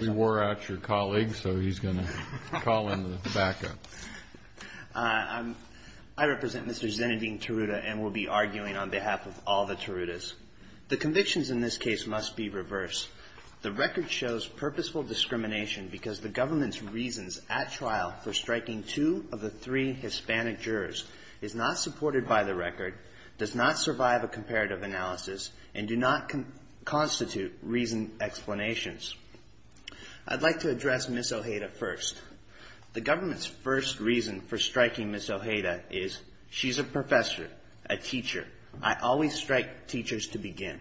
We wore out your colleague, so he's going to call in the backup. I represent Mr. Zinedine Tirouda and will be arguing on behalf of all the Tiroudas. The convictions in this case must be reversed. The record shows purposeful discrimination because the government's reasons at trial for striking two of the three Hispanic jurors is not supported by the record, does not survive a comparative analysis, and do not constitute reasoned explanations. I'd like to address Ms. Ojeda first. The government's first reason for striking Ms. Ojeda is she's a professor, a teacher. I always strike teachers to begin.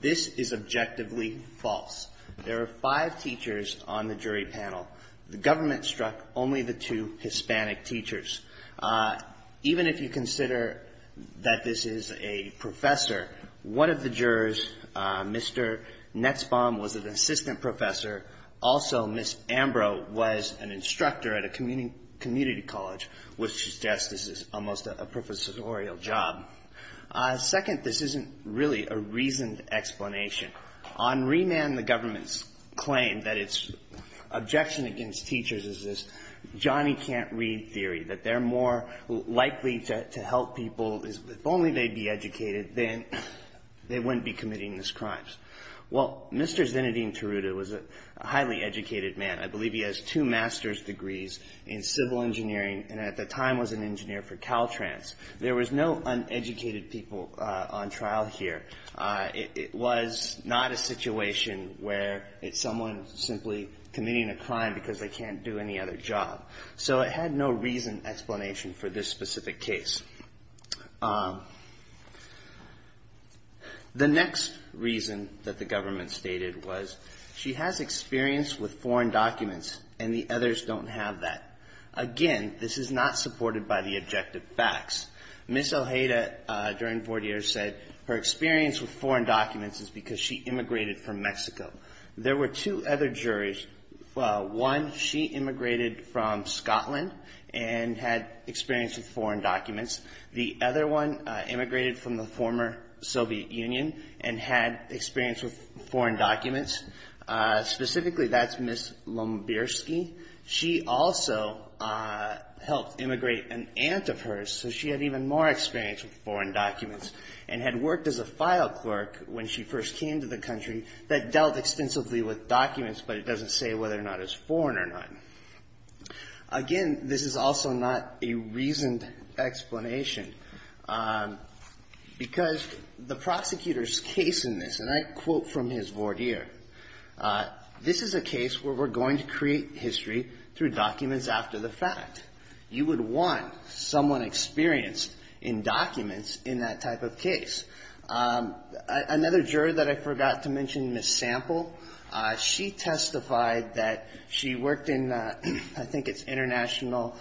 This is objectively false. There are five teachers on the jury panel. The government struck only the two Hispanic teachers. Even if you consider that this is a professor, one of the jurors, Mr. Netzbaum, was an assistant professor. Also, Ms. Ambrow was an instructor at a community college, which suggests this is almost a professorial job. Second, this isn't really a reasoned explanation. On remand, the government's claim that its objection against teachers is this Johnny-can't-read theory, that they're more likely to help people if only they'd be educated, then they wouldn't be committing these crimes. Well, Mr. Zinedine Tirouda was a highly educated man. I believe he has two master's degrees in civil engineering and at the time was an engineer for Caltrans. There was no uneducated people on trial here. It was not a situation where it's someone simply committing a crime because they can't do any other job. So it had no reasoned explanation for this specific case. The next reason that the government stated was she has experience with foreign documents and the others don't have that. Again, this is not supported by the objective facts. Ms. Alheida, during four years, said her experience with foreign documents is because she immigrated from Mexico. There were two other juries. One, she immigrated from Scotland and had experience with foreign documents. The other one immigrated from the former Soviet Union and had experience with foreign documents. Specifically, that's Ms. Lombirsky. She also helped immigrate an aunt of hers, so she had even more experience with foreign documents and had worked as a file clerk when she first came to the country that dealt extensively with documents, but it doesn't say whether or not it's foreign or not. Again, this is also not a reasoned explanation because the prosecutor's case in this, and I quote from his voir dire, this is a case where we're going to create history through documents after the fact. You would want someone experienced in documents in that type of case. Another jury that I forgot to mention, Ms. Sample, she testified that she worked in, I think, it's international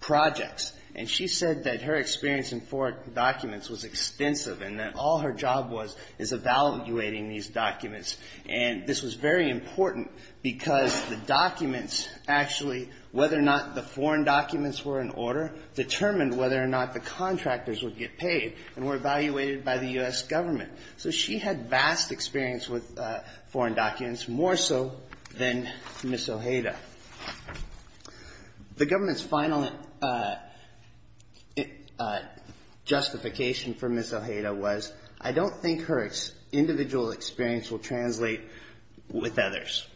projects, and she said that her experience in foreign documents was extensive and that all her job was is evaluating these documents. And this was very important because the documents actually, whether or not the foreign documents were in order, determined whether or not the contractors would get paid and were evaluated by the U.S. Government. So she had vast experience with foreign documents, more so than Ms. Ojeda. The government's final justification for Ms. Ojeda was I don't think her individual experience will translate with others.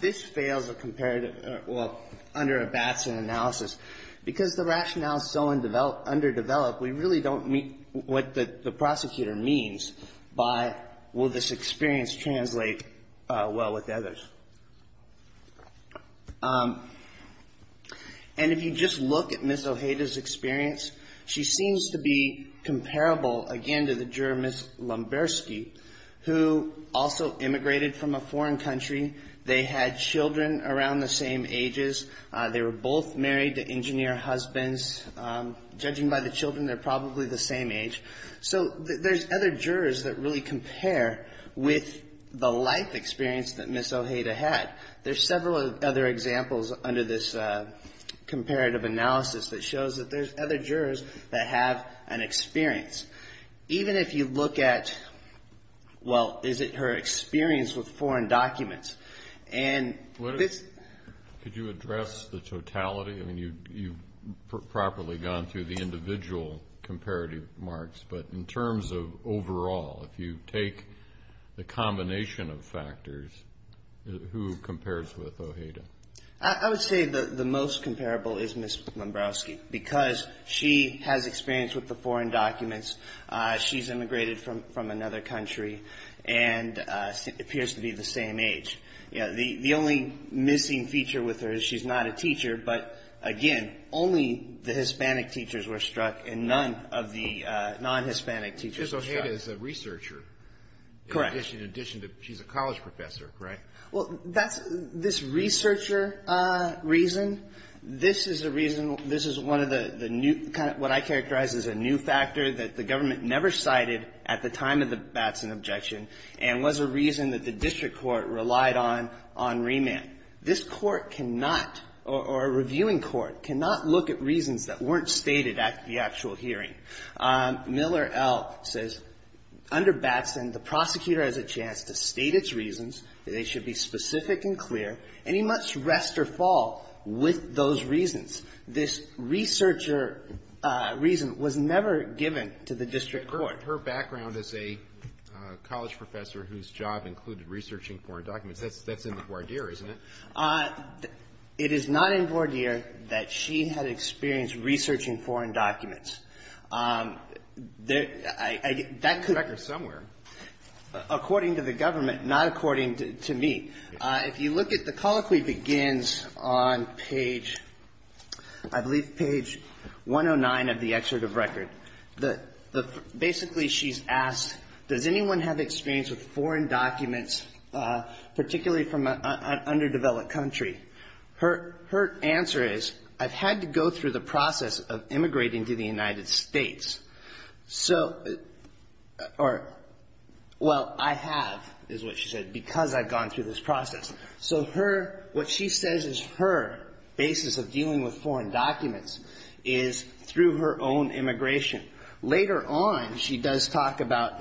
This fails a comparative or under a Batson analysis because the rationale is so underdeveloped we really don't meet what the prosecutor means by will this experience translate well with others. And if you just look at Ms. Ojeda's experience, she seems to be comparable, again, to the juror, Ms. Lombersky, who also immigrated from a foreign country. They had children around the same ages. They were both married to engineer husbands. Judging by the children, they're probably the same age. So there's other jurors that really compare with the life experience that Ms. Ojeda had. There's several other examples under this comparative analysis that shows that there's other jurors that have an experience. Even if you look at, well, is it her experience with foreign documents? And this ---- But in terms of overall, if you take the combination of factors, who compares with Ojeda? I would say the most comparable is Ms. Lombersky because she has experience with the foreign documents. She's immigrated from another country and appears to be the same age. The only missing feature with her is she's not a teacher, but, again, only the Hispanic teachers were struck and none of the non-Hispanic teachers were struck. So Ojeda is a researcher. Correct. In addition to she's a college professor, correct? Well, that's this researcher reason. This is a reason, this is one of the new kind of what I characterize as a new factor that the government never cited at the time of the Batson objection and was a reason that the district court relied on on remand. This Court cannot or a reviewing court cannot look at reasons that weren't stated at the actual hearing. Miller L. says, under Batson, the prosecutor has a chance to state its reasons. They should be specific and clear. Any much rest or fall with those reasons. This researcher reason was never given to the district court. Her background as a college professor whose job included researching foreign documents, that's in the voir dire, isn't it? It is not in voir dire that she had experience researching foreign documents. That could be somewhere. According to the government, not according to me. If you look at the colloquy begins on page, I believe page 109 of the excerpt of record. Basically, she's asked, does anyone have experience with foreign documents, particularly from an underdeveloped country? Her answer is, I've had to go through the process of immigrating to the United States. So, or, well, I have, is what she said, because I've gone through this process. So her, what she says is her basis of dealing with foreign documents is through her own immigration. Later on, she does talk about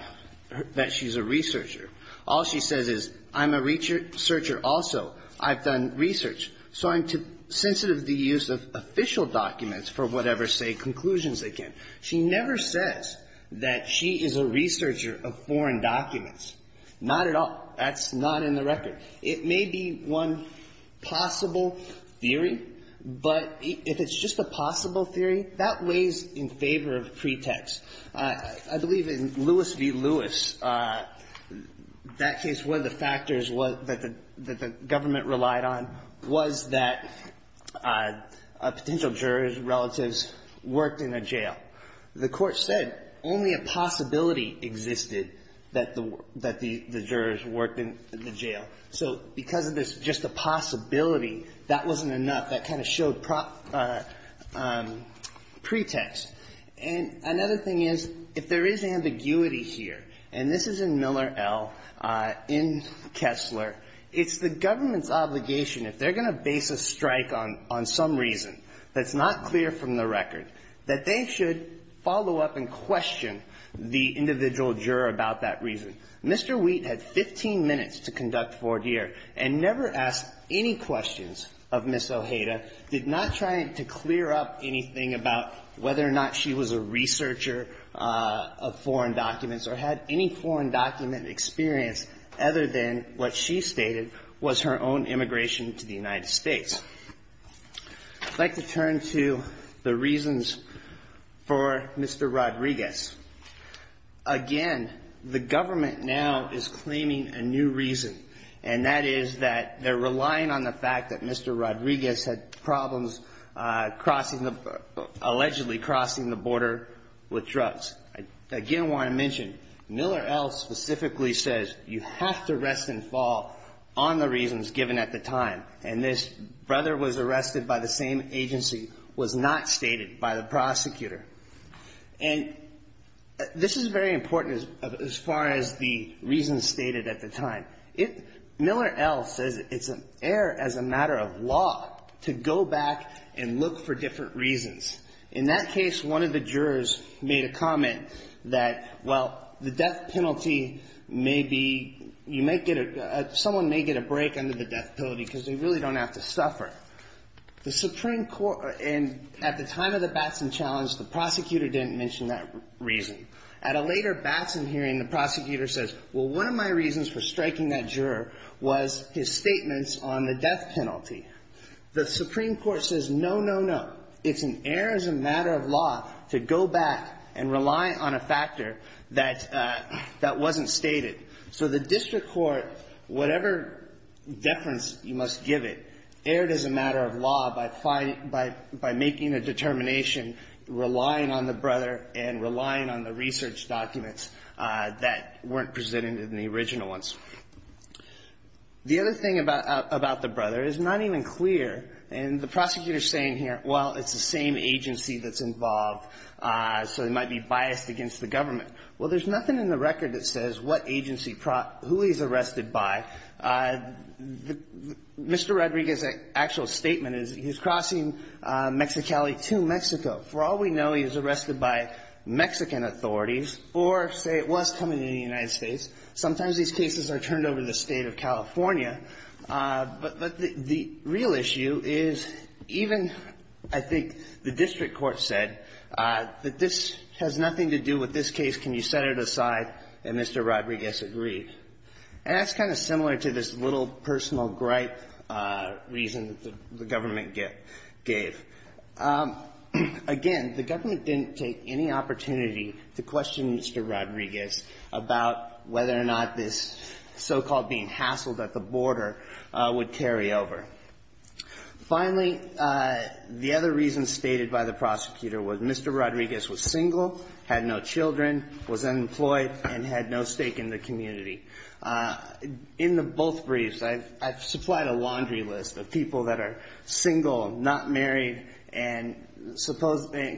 that she's a researcher. All she says is, I'm a researcher also. I've done research. So I'm sensitive to the use of official documents for whatever, say, conclusions they can. She never says that she is a researcher of foreign documents. Not at all. That's not in the record. It may be one possible theory, but if it's just a possible theory, that weighs in favor of pretext. I believe in Lewis v. Lewis, that case, one of the factors that the government relied on was that a potential juror's relatives worked in a jail. The court said only a possibility existed that the jurors worked in the jail. So because of this just a possibility, that wasn't enough. That kind of showed pretext. And another thing is, if there is ambiguity here, and this is in Miller L., in Kessler, it's the government's obligation, if they're going to base a strike on some reason that's not clear from the record, that they should follow up and question the individual juror about that reason. Mr. Wheat had 15 minutes to conduct four-year and never asked any questions of Ms. Ojeda, did not try to clear up anything about whether or not she was a researcher of foreign documents or had any foreign document experience other than what she stated was her own immigration to the United States. I'd like to turn to the reasons for Mr. Rodriguez. Again, the government now is claiming a new reason, and that is that they're relying on the fact that Mr. Rodriguez had problems allegedly crossing the border with drugs. I again want to mention, Miller L. specifically says you have to rest and fall on the reasons given at the time, and this brother was arrested by the same agency was not stated by the prosecutor. And this is very important as far as the reasons stated at the time. Miller L. says it's an error as a matter of law to go back and look for different reasons. In that case, one of the jurors made a comment that, well, the death penalty may be you may get a someone may get a break under the death penalty because they really don't have to suffer. The Supreme Court, and at the time of the Batson challenge, the prosecutor didn't mention that reason. At a later Batson hearing, the prosecutor says, well, one of my reasons for striking that juror was his statements on the death penalty. The Supreme Court says, no, no, no. It's an error as a matter of law to go back and rely on a factor that wasn't stated. So the district court, whatever deference you must give it, erred as a matter of law by finding by making a determination, relying on the brother, and relying on the research documents that weren't presented in the original ones. The other thing about the brother is not even clear, and the prosecutor is saying here, well, it's the same agency that's involved, so they might be biased against the government. Well, there's nothing in the record that says what agency, who he's arrested by. Mr. Rodriguez's actual statement is he's crossing Mexicali to Mexico. For all we know, he's arrested by Mexican authorities or, say, it was coming into the United States. Sometimes these cases are turned over to the State of California. But the real issue is even, I think, the district court said that this has nothing to do with this case. Can you set it aside? And Mr. Rodriguez agreed. And that's kind of similar to this little personal gripe reason that the government gave. Again, the government didn't take any opportunity to question Mr. Rodriguez about whether or not this so-called being hassled at the border would carry over. Finally, the other reason stated by the prosecutor was Mr. Rodriguez was single, had no children, was unemployed, and had no stake in the community. In both briefs, I've supplied a laundry list of people that are single, not married, and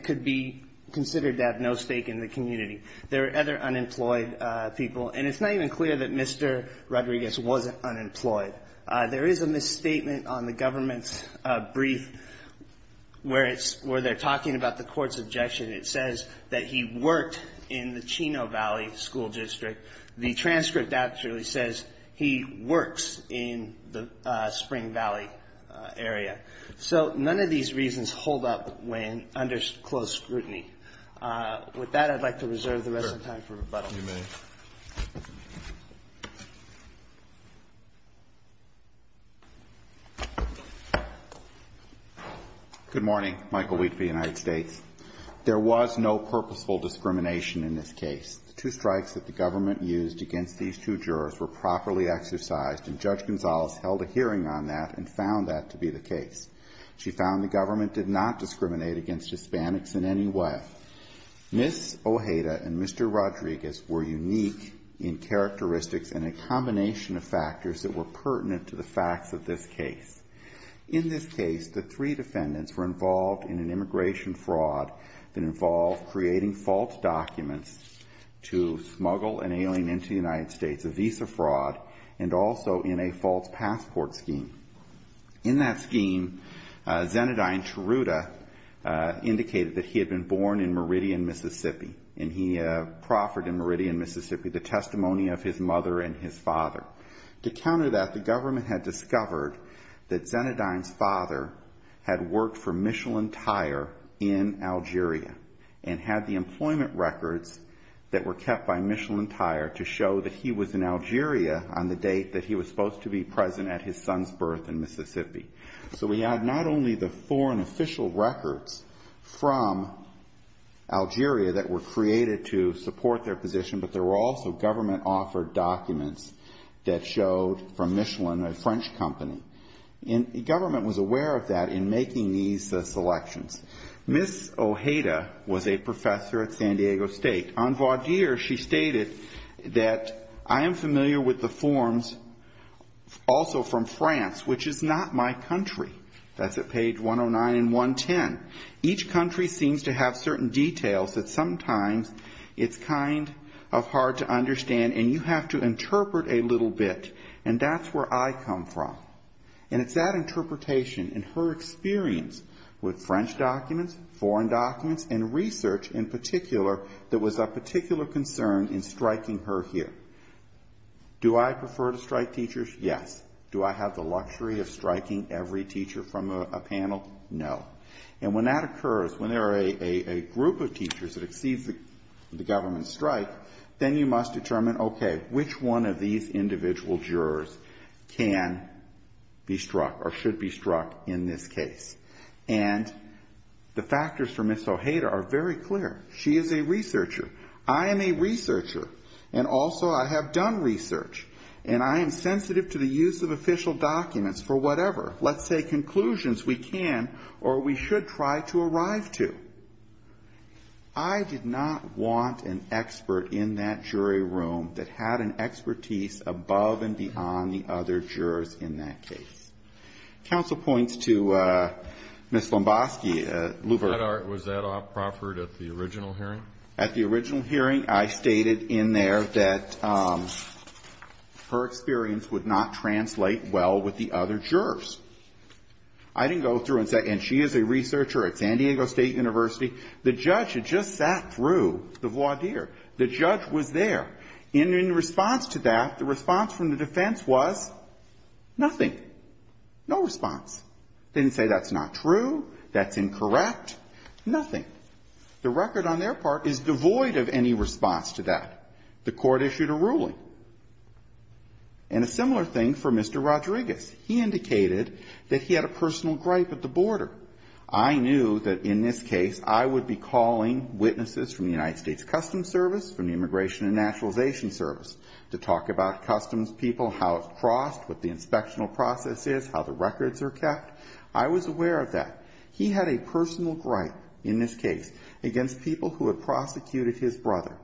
could be considered to have no stake in the community. There are other unemployed people. And it's not even clear that Mr. Rodriguez wasn't unemployed. There is a misstatement on the government's brief where they're talking about the court's objection. It says that he worked in the Chino Valley School District. The transcript actually says he works in the Spring Valley area. So none of these reasons hold up when under close scrutiny. With that, I'd like to reserve the rest of the time for rebuttal. Roberts. You may. Good morning. Michael Wheat for the United States. There was no purposeful discrimination in this case. The two strikes that the government used against these two jurors were properly exercised, and Judge Gonzalez held a hearing on that and found that to be the case. She found the government did not discriminate against Hispanics in any way. Ms. Ojeda and Mr. Rodriguez were unique in characteristics and a combination of factors that were pertinent to the facts of this case. In this case, the three defendants were involved in an immigration fraud that involved creating false documents to smuggle an alien into the United States, a visa fraud, and also in a false passport scheme. In that scheme, Zenedi Taruta indicated that he had been born in Meridian, Mississippi, and he proffered in Meridian, Mississippi, the testimony of his mother and his father. To counter that, the government had discovered that Zenedi's father had worked for Michelin Tire in Algeria and had the employment records that were kept by Michelin Tire to show that he was in Algeria on the date that he was supposed to be present at his son's birth in Mississippi. So we had not only the foreign official records from Algeria that were created to that showed from Michelin, a French company. And the government was aware of that in making these selections. Ms. Ojeda was a professor at San Diego State. On voir dire, she stated that I am familiar with the forms also from France, which is not my country. That's at page 109 and 110. Each country seems to have certain details that sometimes it's kind of hard to bit. And that's where I come from. And it's that interpretation and her experience with French documents, foreign documents, and research in particular that was of particular concern in striking her here. Do I prefer to strike teachers? Yes. Do I have the luxury of striking every teacher from a panel? No. And when that occurs, when there are a group of teachers that exceeds the government's must determine, okay, which one of these individual jurors can be struck or should be struck in this case. And the factors for Ms. Ojeda are very clear. She is a researcher. I am a researcher. And also I have done research. And I am sensitive to the use of official documents for whatever. Let's say conclusions we can or we should try to arrive to. I did not want an expert in that jury room that had an expertise above and beyond the other jurors in that case. Counsel points to Ms. Lomboski. Was that offered at the original hearing? At the original hearing, I stated in there that her experience would not translate well with the other jurors. I didn't go through and say, and she is a researcher at San Diego State University. The judge had just sat through the voir dire. The judge was there. And in response to that, the response from the defense was nothing. No response. They didn't say that's not true, that's incorrect. Nothing. The record on their part is devoid of any response to that. The court issued a ruling. And a similar thing for Mr. Rodriguez. He indicated that he had a personal gripe at the border. I knew that in this case I would be calling witnesses from the United States Customs Service, from the Immigration and Naturalization Service, to talk about customs people, how it's crossed, what the inspectional process is, how the records are kept. I was aware of that. He had a personal gripe in this case against people who had prosecuted his brother.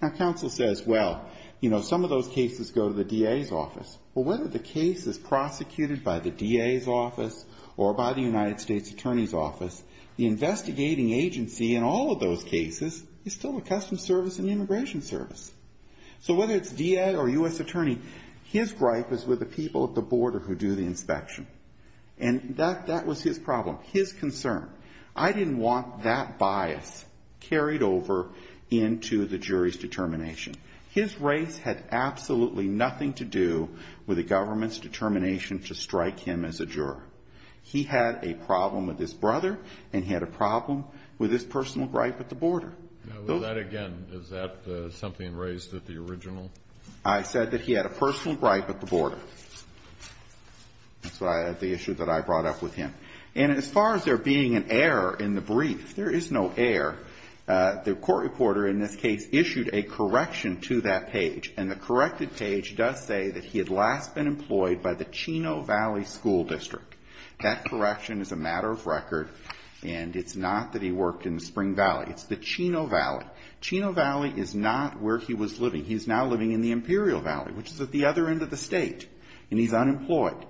Now, counsel says, well, you know, some of those cases go to the DA's office. Well, whether the case is prosecuted by the DA's office or by the United States Attorney's office, the investigating agency in all of those cases is still the Customs Service and the Immigration Service. So whether it's DA or U.S. Attorney, his gripe is with the people at the border who do the inspection. And that was his problem, his concern. I didn't want that bias carried over into the jury's determination. His race had absolutely nothing to do with the government's determination to strike him as a juror. He had a problem with his brother, and he had a problem with his personal gripe at the border. Those ---- Well, that again, is that something raised at the original? I said that he had a personal gripe at the border. That's the issue that I brought up with him. And as far as there being an error in the brief, there is no error. The court reporter in this case issued a correction to that page, and the corrected page does say that he had last been employed by the Chino Valley School District. That correction is a matter of record, and it's not that he worked in the Spring Valley. It's the Chino Valley. Chino Valley is not where he was living. He's now living in the Imperial Valley, which is at the other end of the State, and he's unemployed.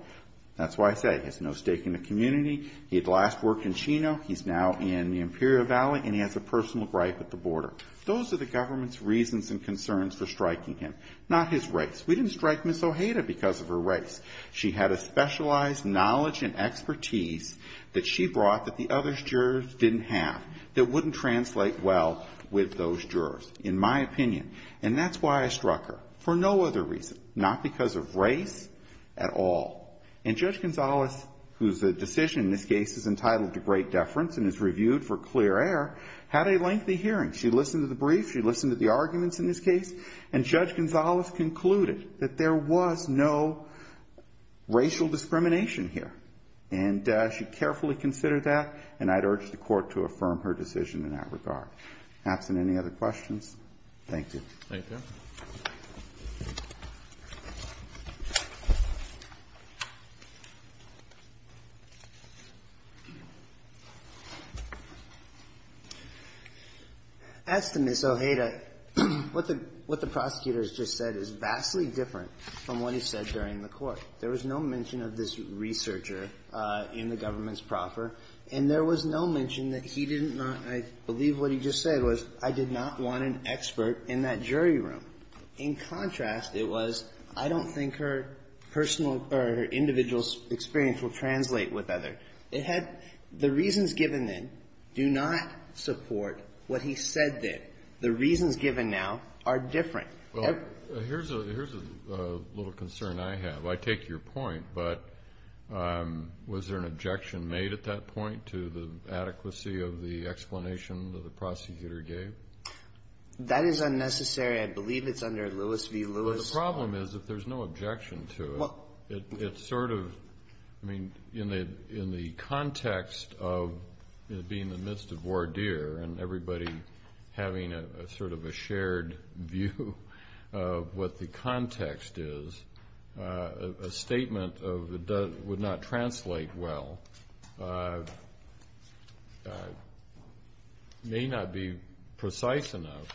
That's why I say he has no stake in the community. He had last worked in Chino. He's now in the Imperial Valley, and he has a personal gripe at the border. Those are the government's reasons and concerns for striking him, not his race. We didn't strike Ms. Ojeda because of her race. She had a specialized knowledge and expertise that she brought that the other jurors didn't have that wouldn't translate well with those jurors, in my opinion. And that's why I struck her, for no other reason, not because of race at all. And Judge Gonzales, whose decision in this case is entitled to great deference and is reviewed for clear air, had a lengthy hearing. She listened to the brief. She listened to the arguments in this case, and Judge Gonzales concluded that there was no racial discrimination here. And she carefully considered that, and I'd urge the Court to affirm her decision in that regard. Absent any other questions, thank you. Thank you. As to Ms. Ojeda, what the prosecutor has just said is vastly different from what he said during the Court. There was no mention of this researcher in the government's proffer, and there was no mention that he did not, I believe what he just said was, I did not want an expert in that jury room. In contrast, it was, I don't think her personal or her individual experience will translate with others. It had the reasons given then do not support what he said then. The reasons given now are different. Well, here's a little concern I have. I take your point, but was there an objection made at that point to the adequacy of the explanation that the prosecutor gave? That is unnecessary. I believe it's under Lewis v. Lewis. Well, the problem is if there's no objection to it, it's sort of, I mean, in the context of being in the midst of voir dire and everybody having a sort of a shared view of what the context is, a statement of it would not translate well may not be precise enough.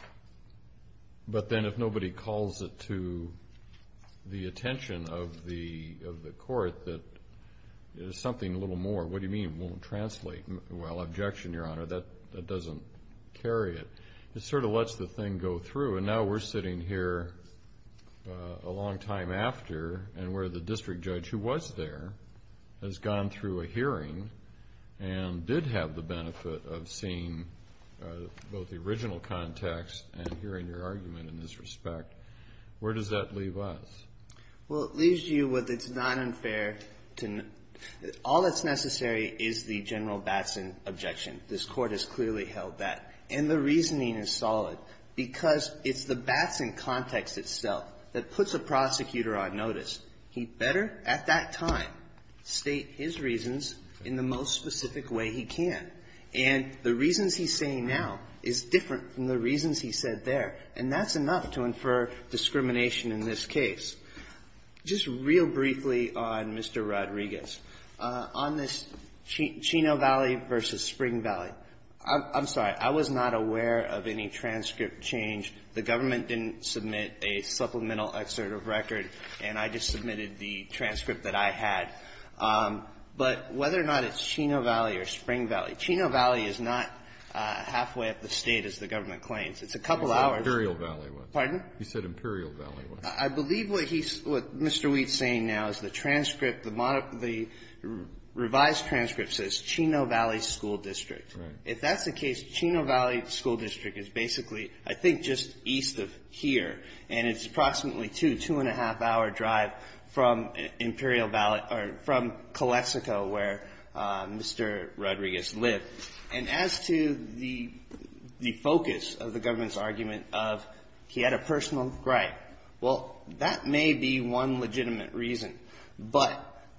But then if nobody calls it to the attention of the Court that there's something a little more, what do you mean it won't translate well? Objection, Your Honor. That doesn't carry it. It sort of lets the thing go through. And now we're sitting here a long time after and where the district judge who was there has gone through a hearing and did have the benefit of seeing both the original context and hearing your argument in this respect. Where does that leave us? Well, it leaves you with it's not unfair. All that's necessary is the General Batson objection. This Court has clearly held that. And the reasoning is solid. Because it's the Batson context itself that puts a prosecutor on notice. He better at that time state his reasons in the most specific way he can. And the reasons he's saying now is different from the reasons he said there. And that's enough to infer discrimination in this case. Just real briefly on Mr. Rodriguez. On this Chino Valley v. Spring Valley. I'm sorry. I was not aware of any transcript change. The government didn't submit a supplemental excerpt of record. And I just submitted the transcript that I had. But whether or not it's Chino Valley or Spring Valley, Chino Valley is not halfway up the State, as the government claims. It's a couple hours. I thought Imperial Valley was. Pardon? You said Imperial Valley was. I believe what he's what Mr. Wheat's saying now is the transcript, the revised transcript says Chino Valley School District. If that's the case, Chino Valley School District is basically, I think, just east of here, and it's approximately two, two-and-a-half-hour drive from Imperial Valley or from Calexico, where Mr. Rodriguez lived. And as to the focus of the government's argument of he had a personal right, well, that may be one legitimate reason. But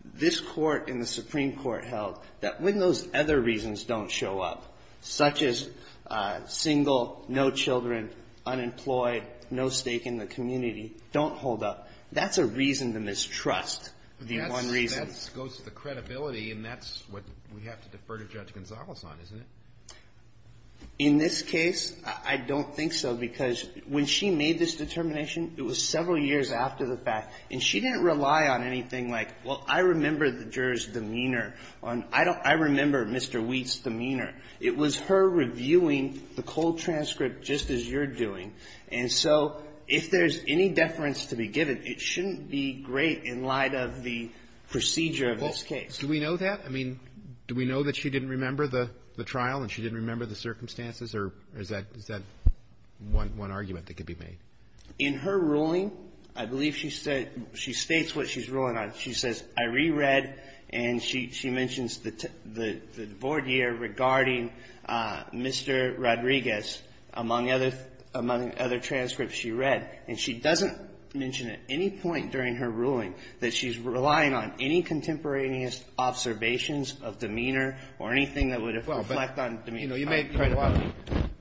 this Court and the Supreme Court held that when those other reasons don't show up, such as single, no children, unemployed, no stake in the community, don't hold up, that's a reason to mistrust the one reason. That goes to the credibility, and that's what we have to defer to Judge Gonzales on, isn't it? In this case, I don't think so, because when she made this determination, it was several years after the fact, and she didn't rely on anything like, well, I remember the juror's demeanor on, I remember Mr. Wheat's demeanor. It was her reviewing the cold transcript just as you're doing, and so if there's any deference to be given, it shouldn't be great in light of the procedure of this case. Roberts. Do we know that? I mean, do we know that she didn't remember the trial and she didn't remember the circumstances? Or is that one argument that could be made? In her ruling, I believe she states what she's ruling on. She says, I reread, and she mentions the board year regarding Mr. Rodriguez among other transcripts she read. And she doesn't mention at any point during her ruling that she's relying on any contemporaneous observations of demeanor or anything that would reflect on demeanor. You know, you made quite a lot of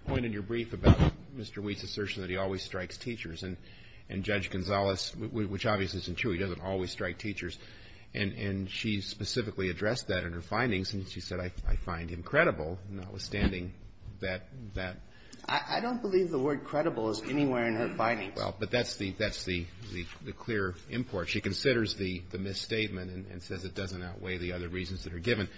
point in your brief about Mr. Wheat's assertion that he always strikes teachers, and Judge Gonzales, which obviously isn't true, he doesn't always strike teachers, and she specifically addressed that in her findings. And she said, I find him credible, notwithstanding that. I don't believe the word credible is anywhere in her findings. Well, but that's the clear import. She considers the misstatement and says it doesn't outweigh the other reasons that are given.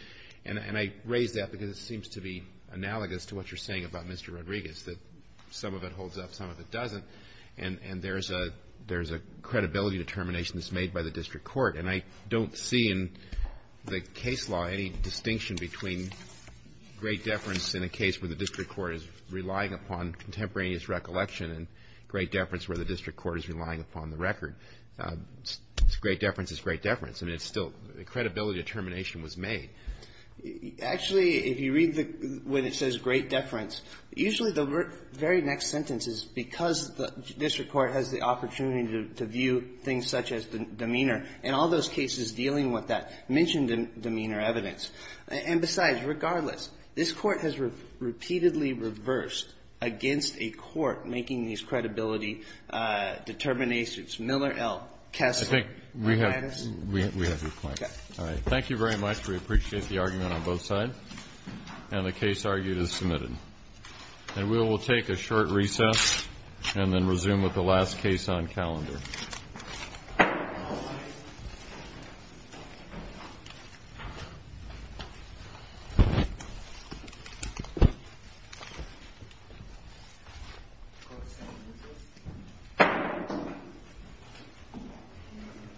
And I raise that because it seems to be analogous to what you're saying about Mr. Rodriguez, that some of it holds up, some of it doesn't. And there's a credibility determination that's made by the district court. And I don't see in the case law any distinction between great deference in a case where the district court is relying upon contemporaneous recollection and great deference where the district court is relying upon the record. Great deference is great deference. I mean, it's still the credibility determination was made. Actually, if you read when it says great deference, usually the very next sentence is because the district court has the opportunity to view things such as demeanor. And all those cases dealing with that mentioned demeanor evidence. And besides, regardless, this Court has repeatedly reversed against a court making these credibility determinations, Miller, Elk, Kessler. I think we have your point. All right. Thank you very much. We appreciate the argument on both sides. And the case argued is submitted. And we will take a short recess and then resume with the last case on calendar. Thank you.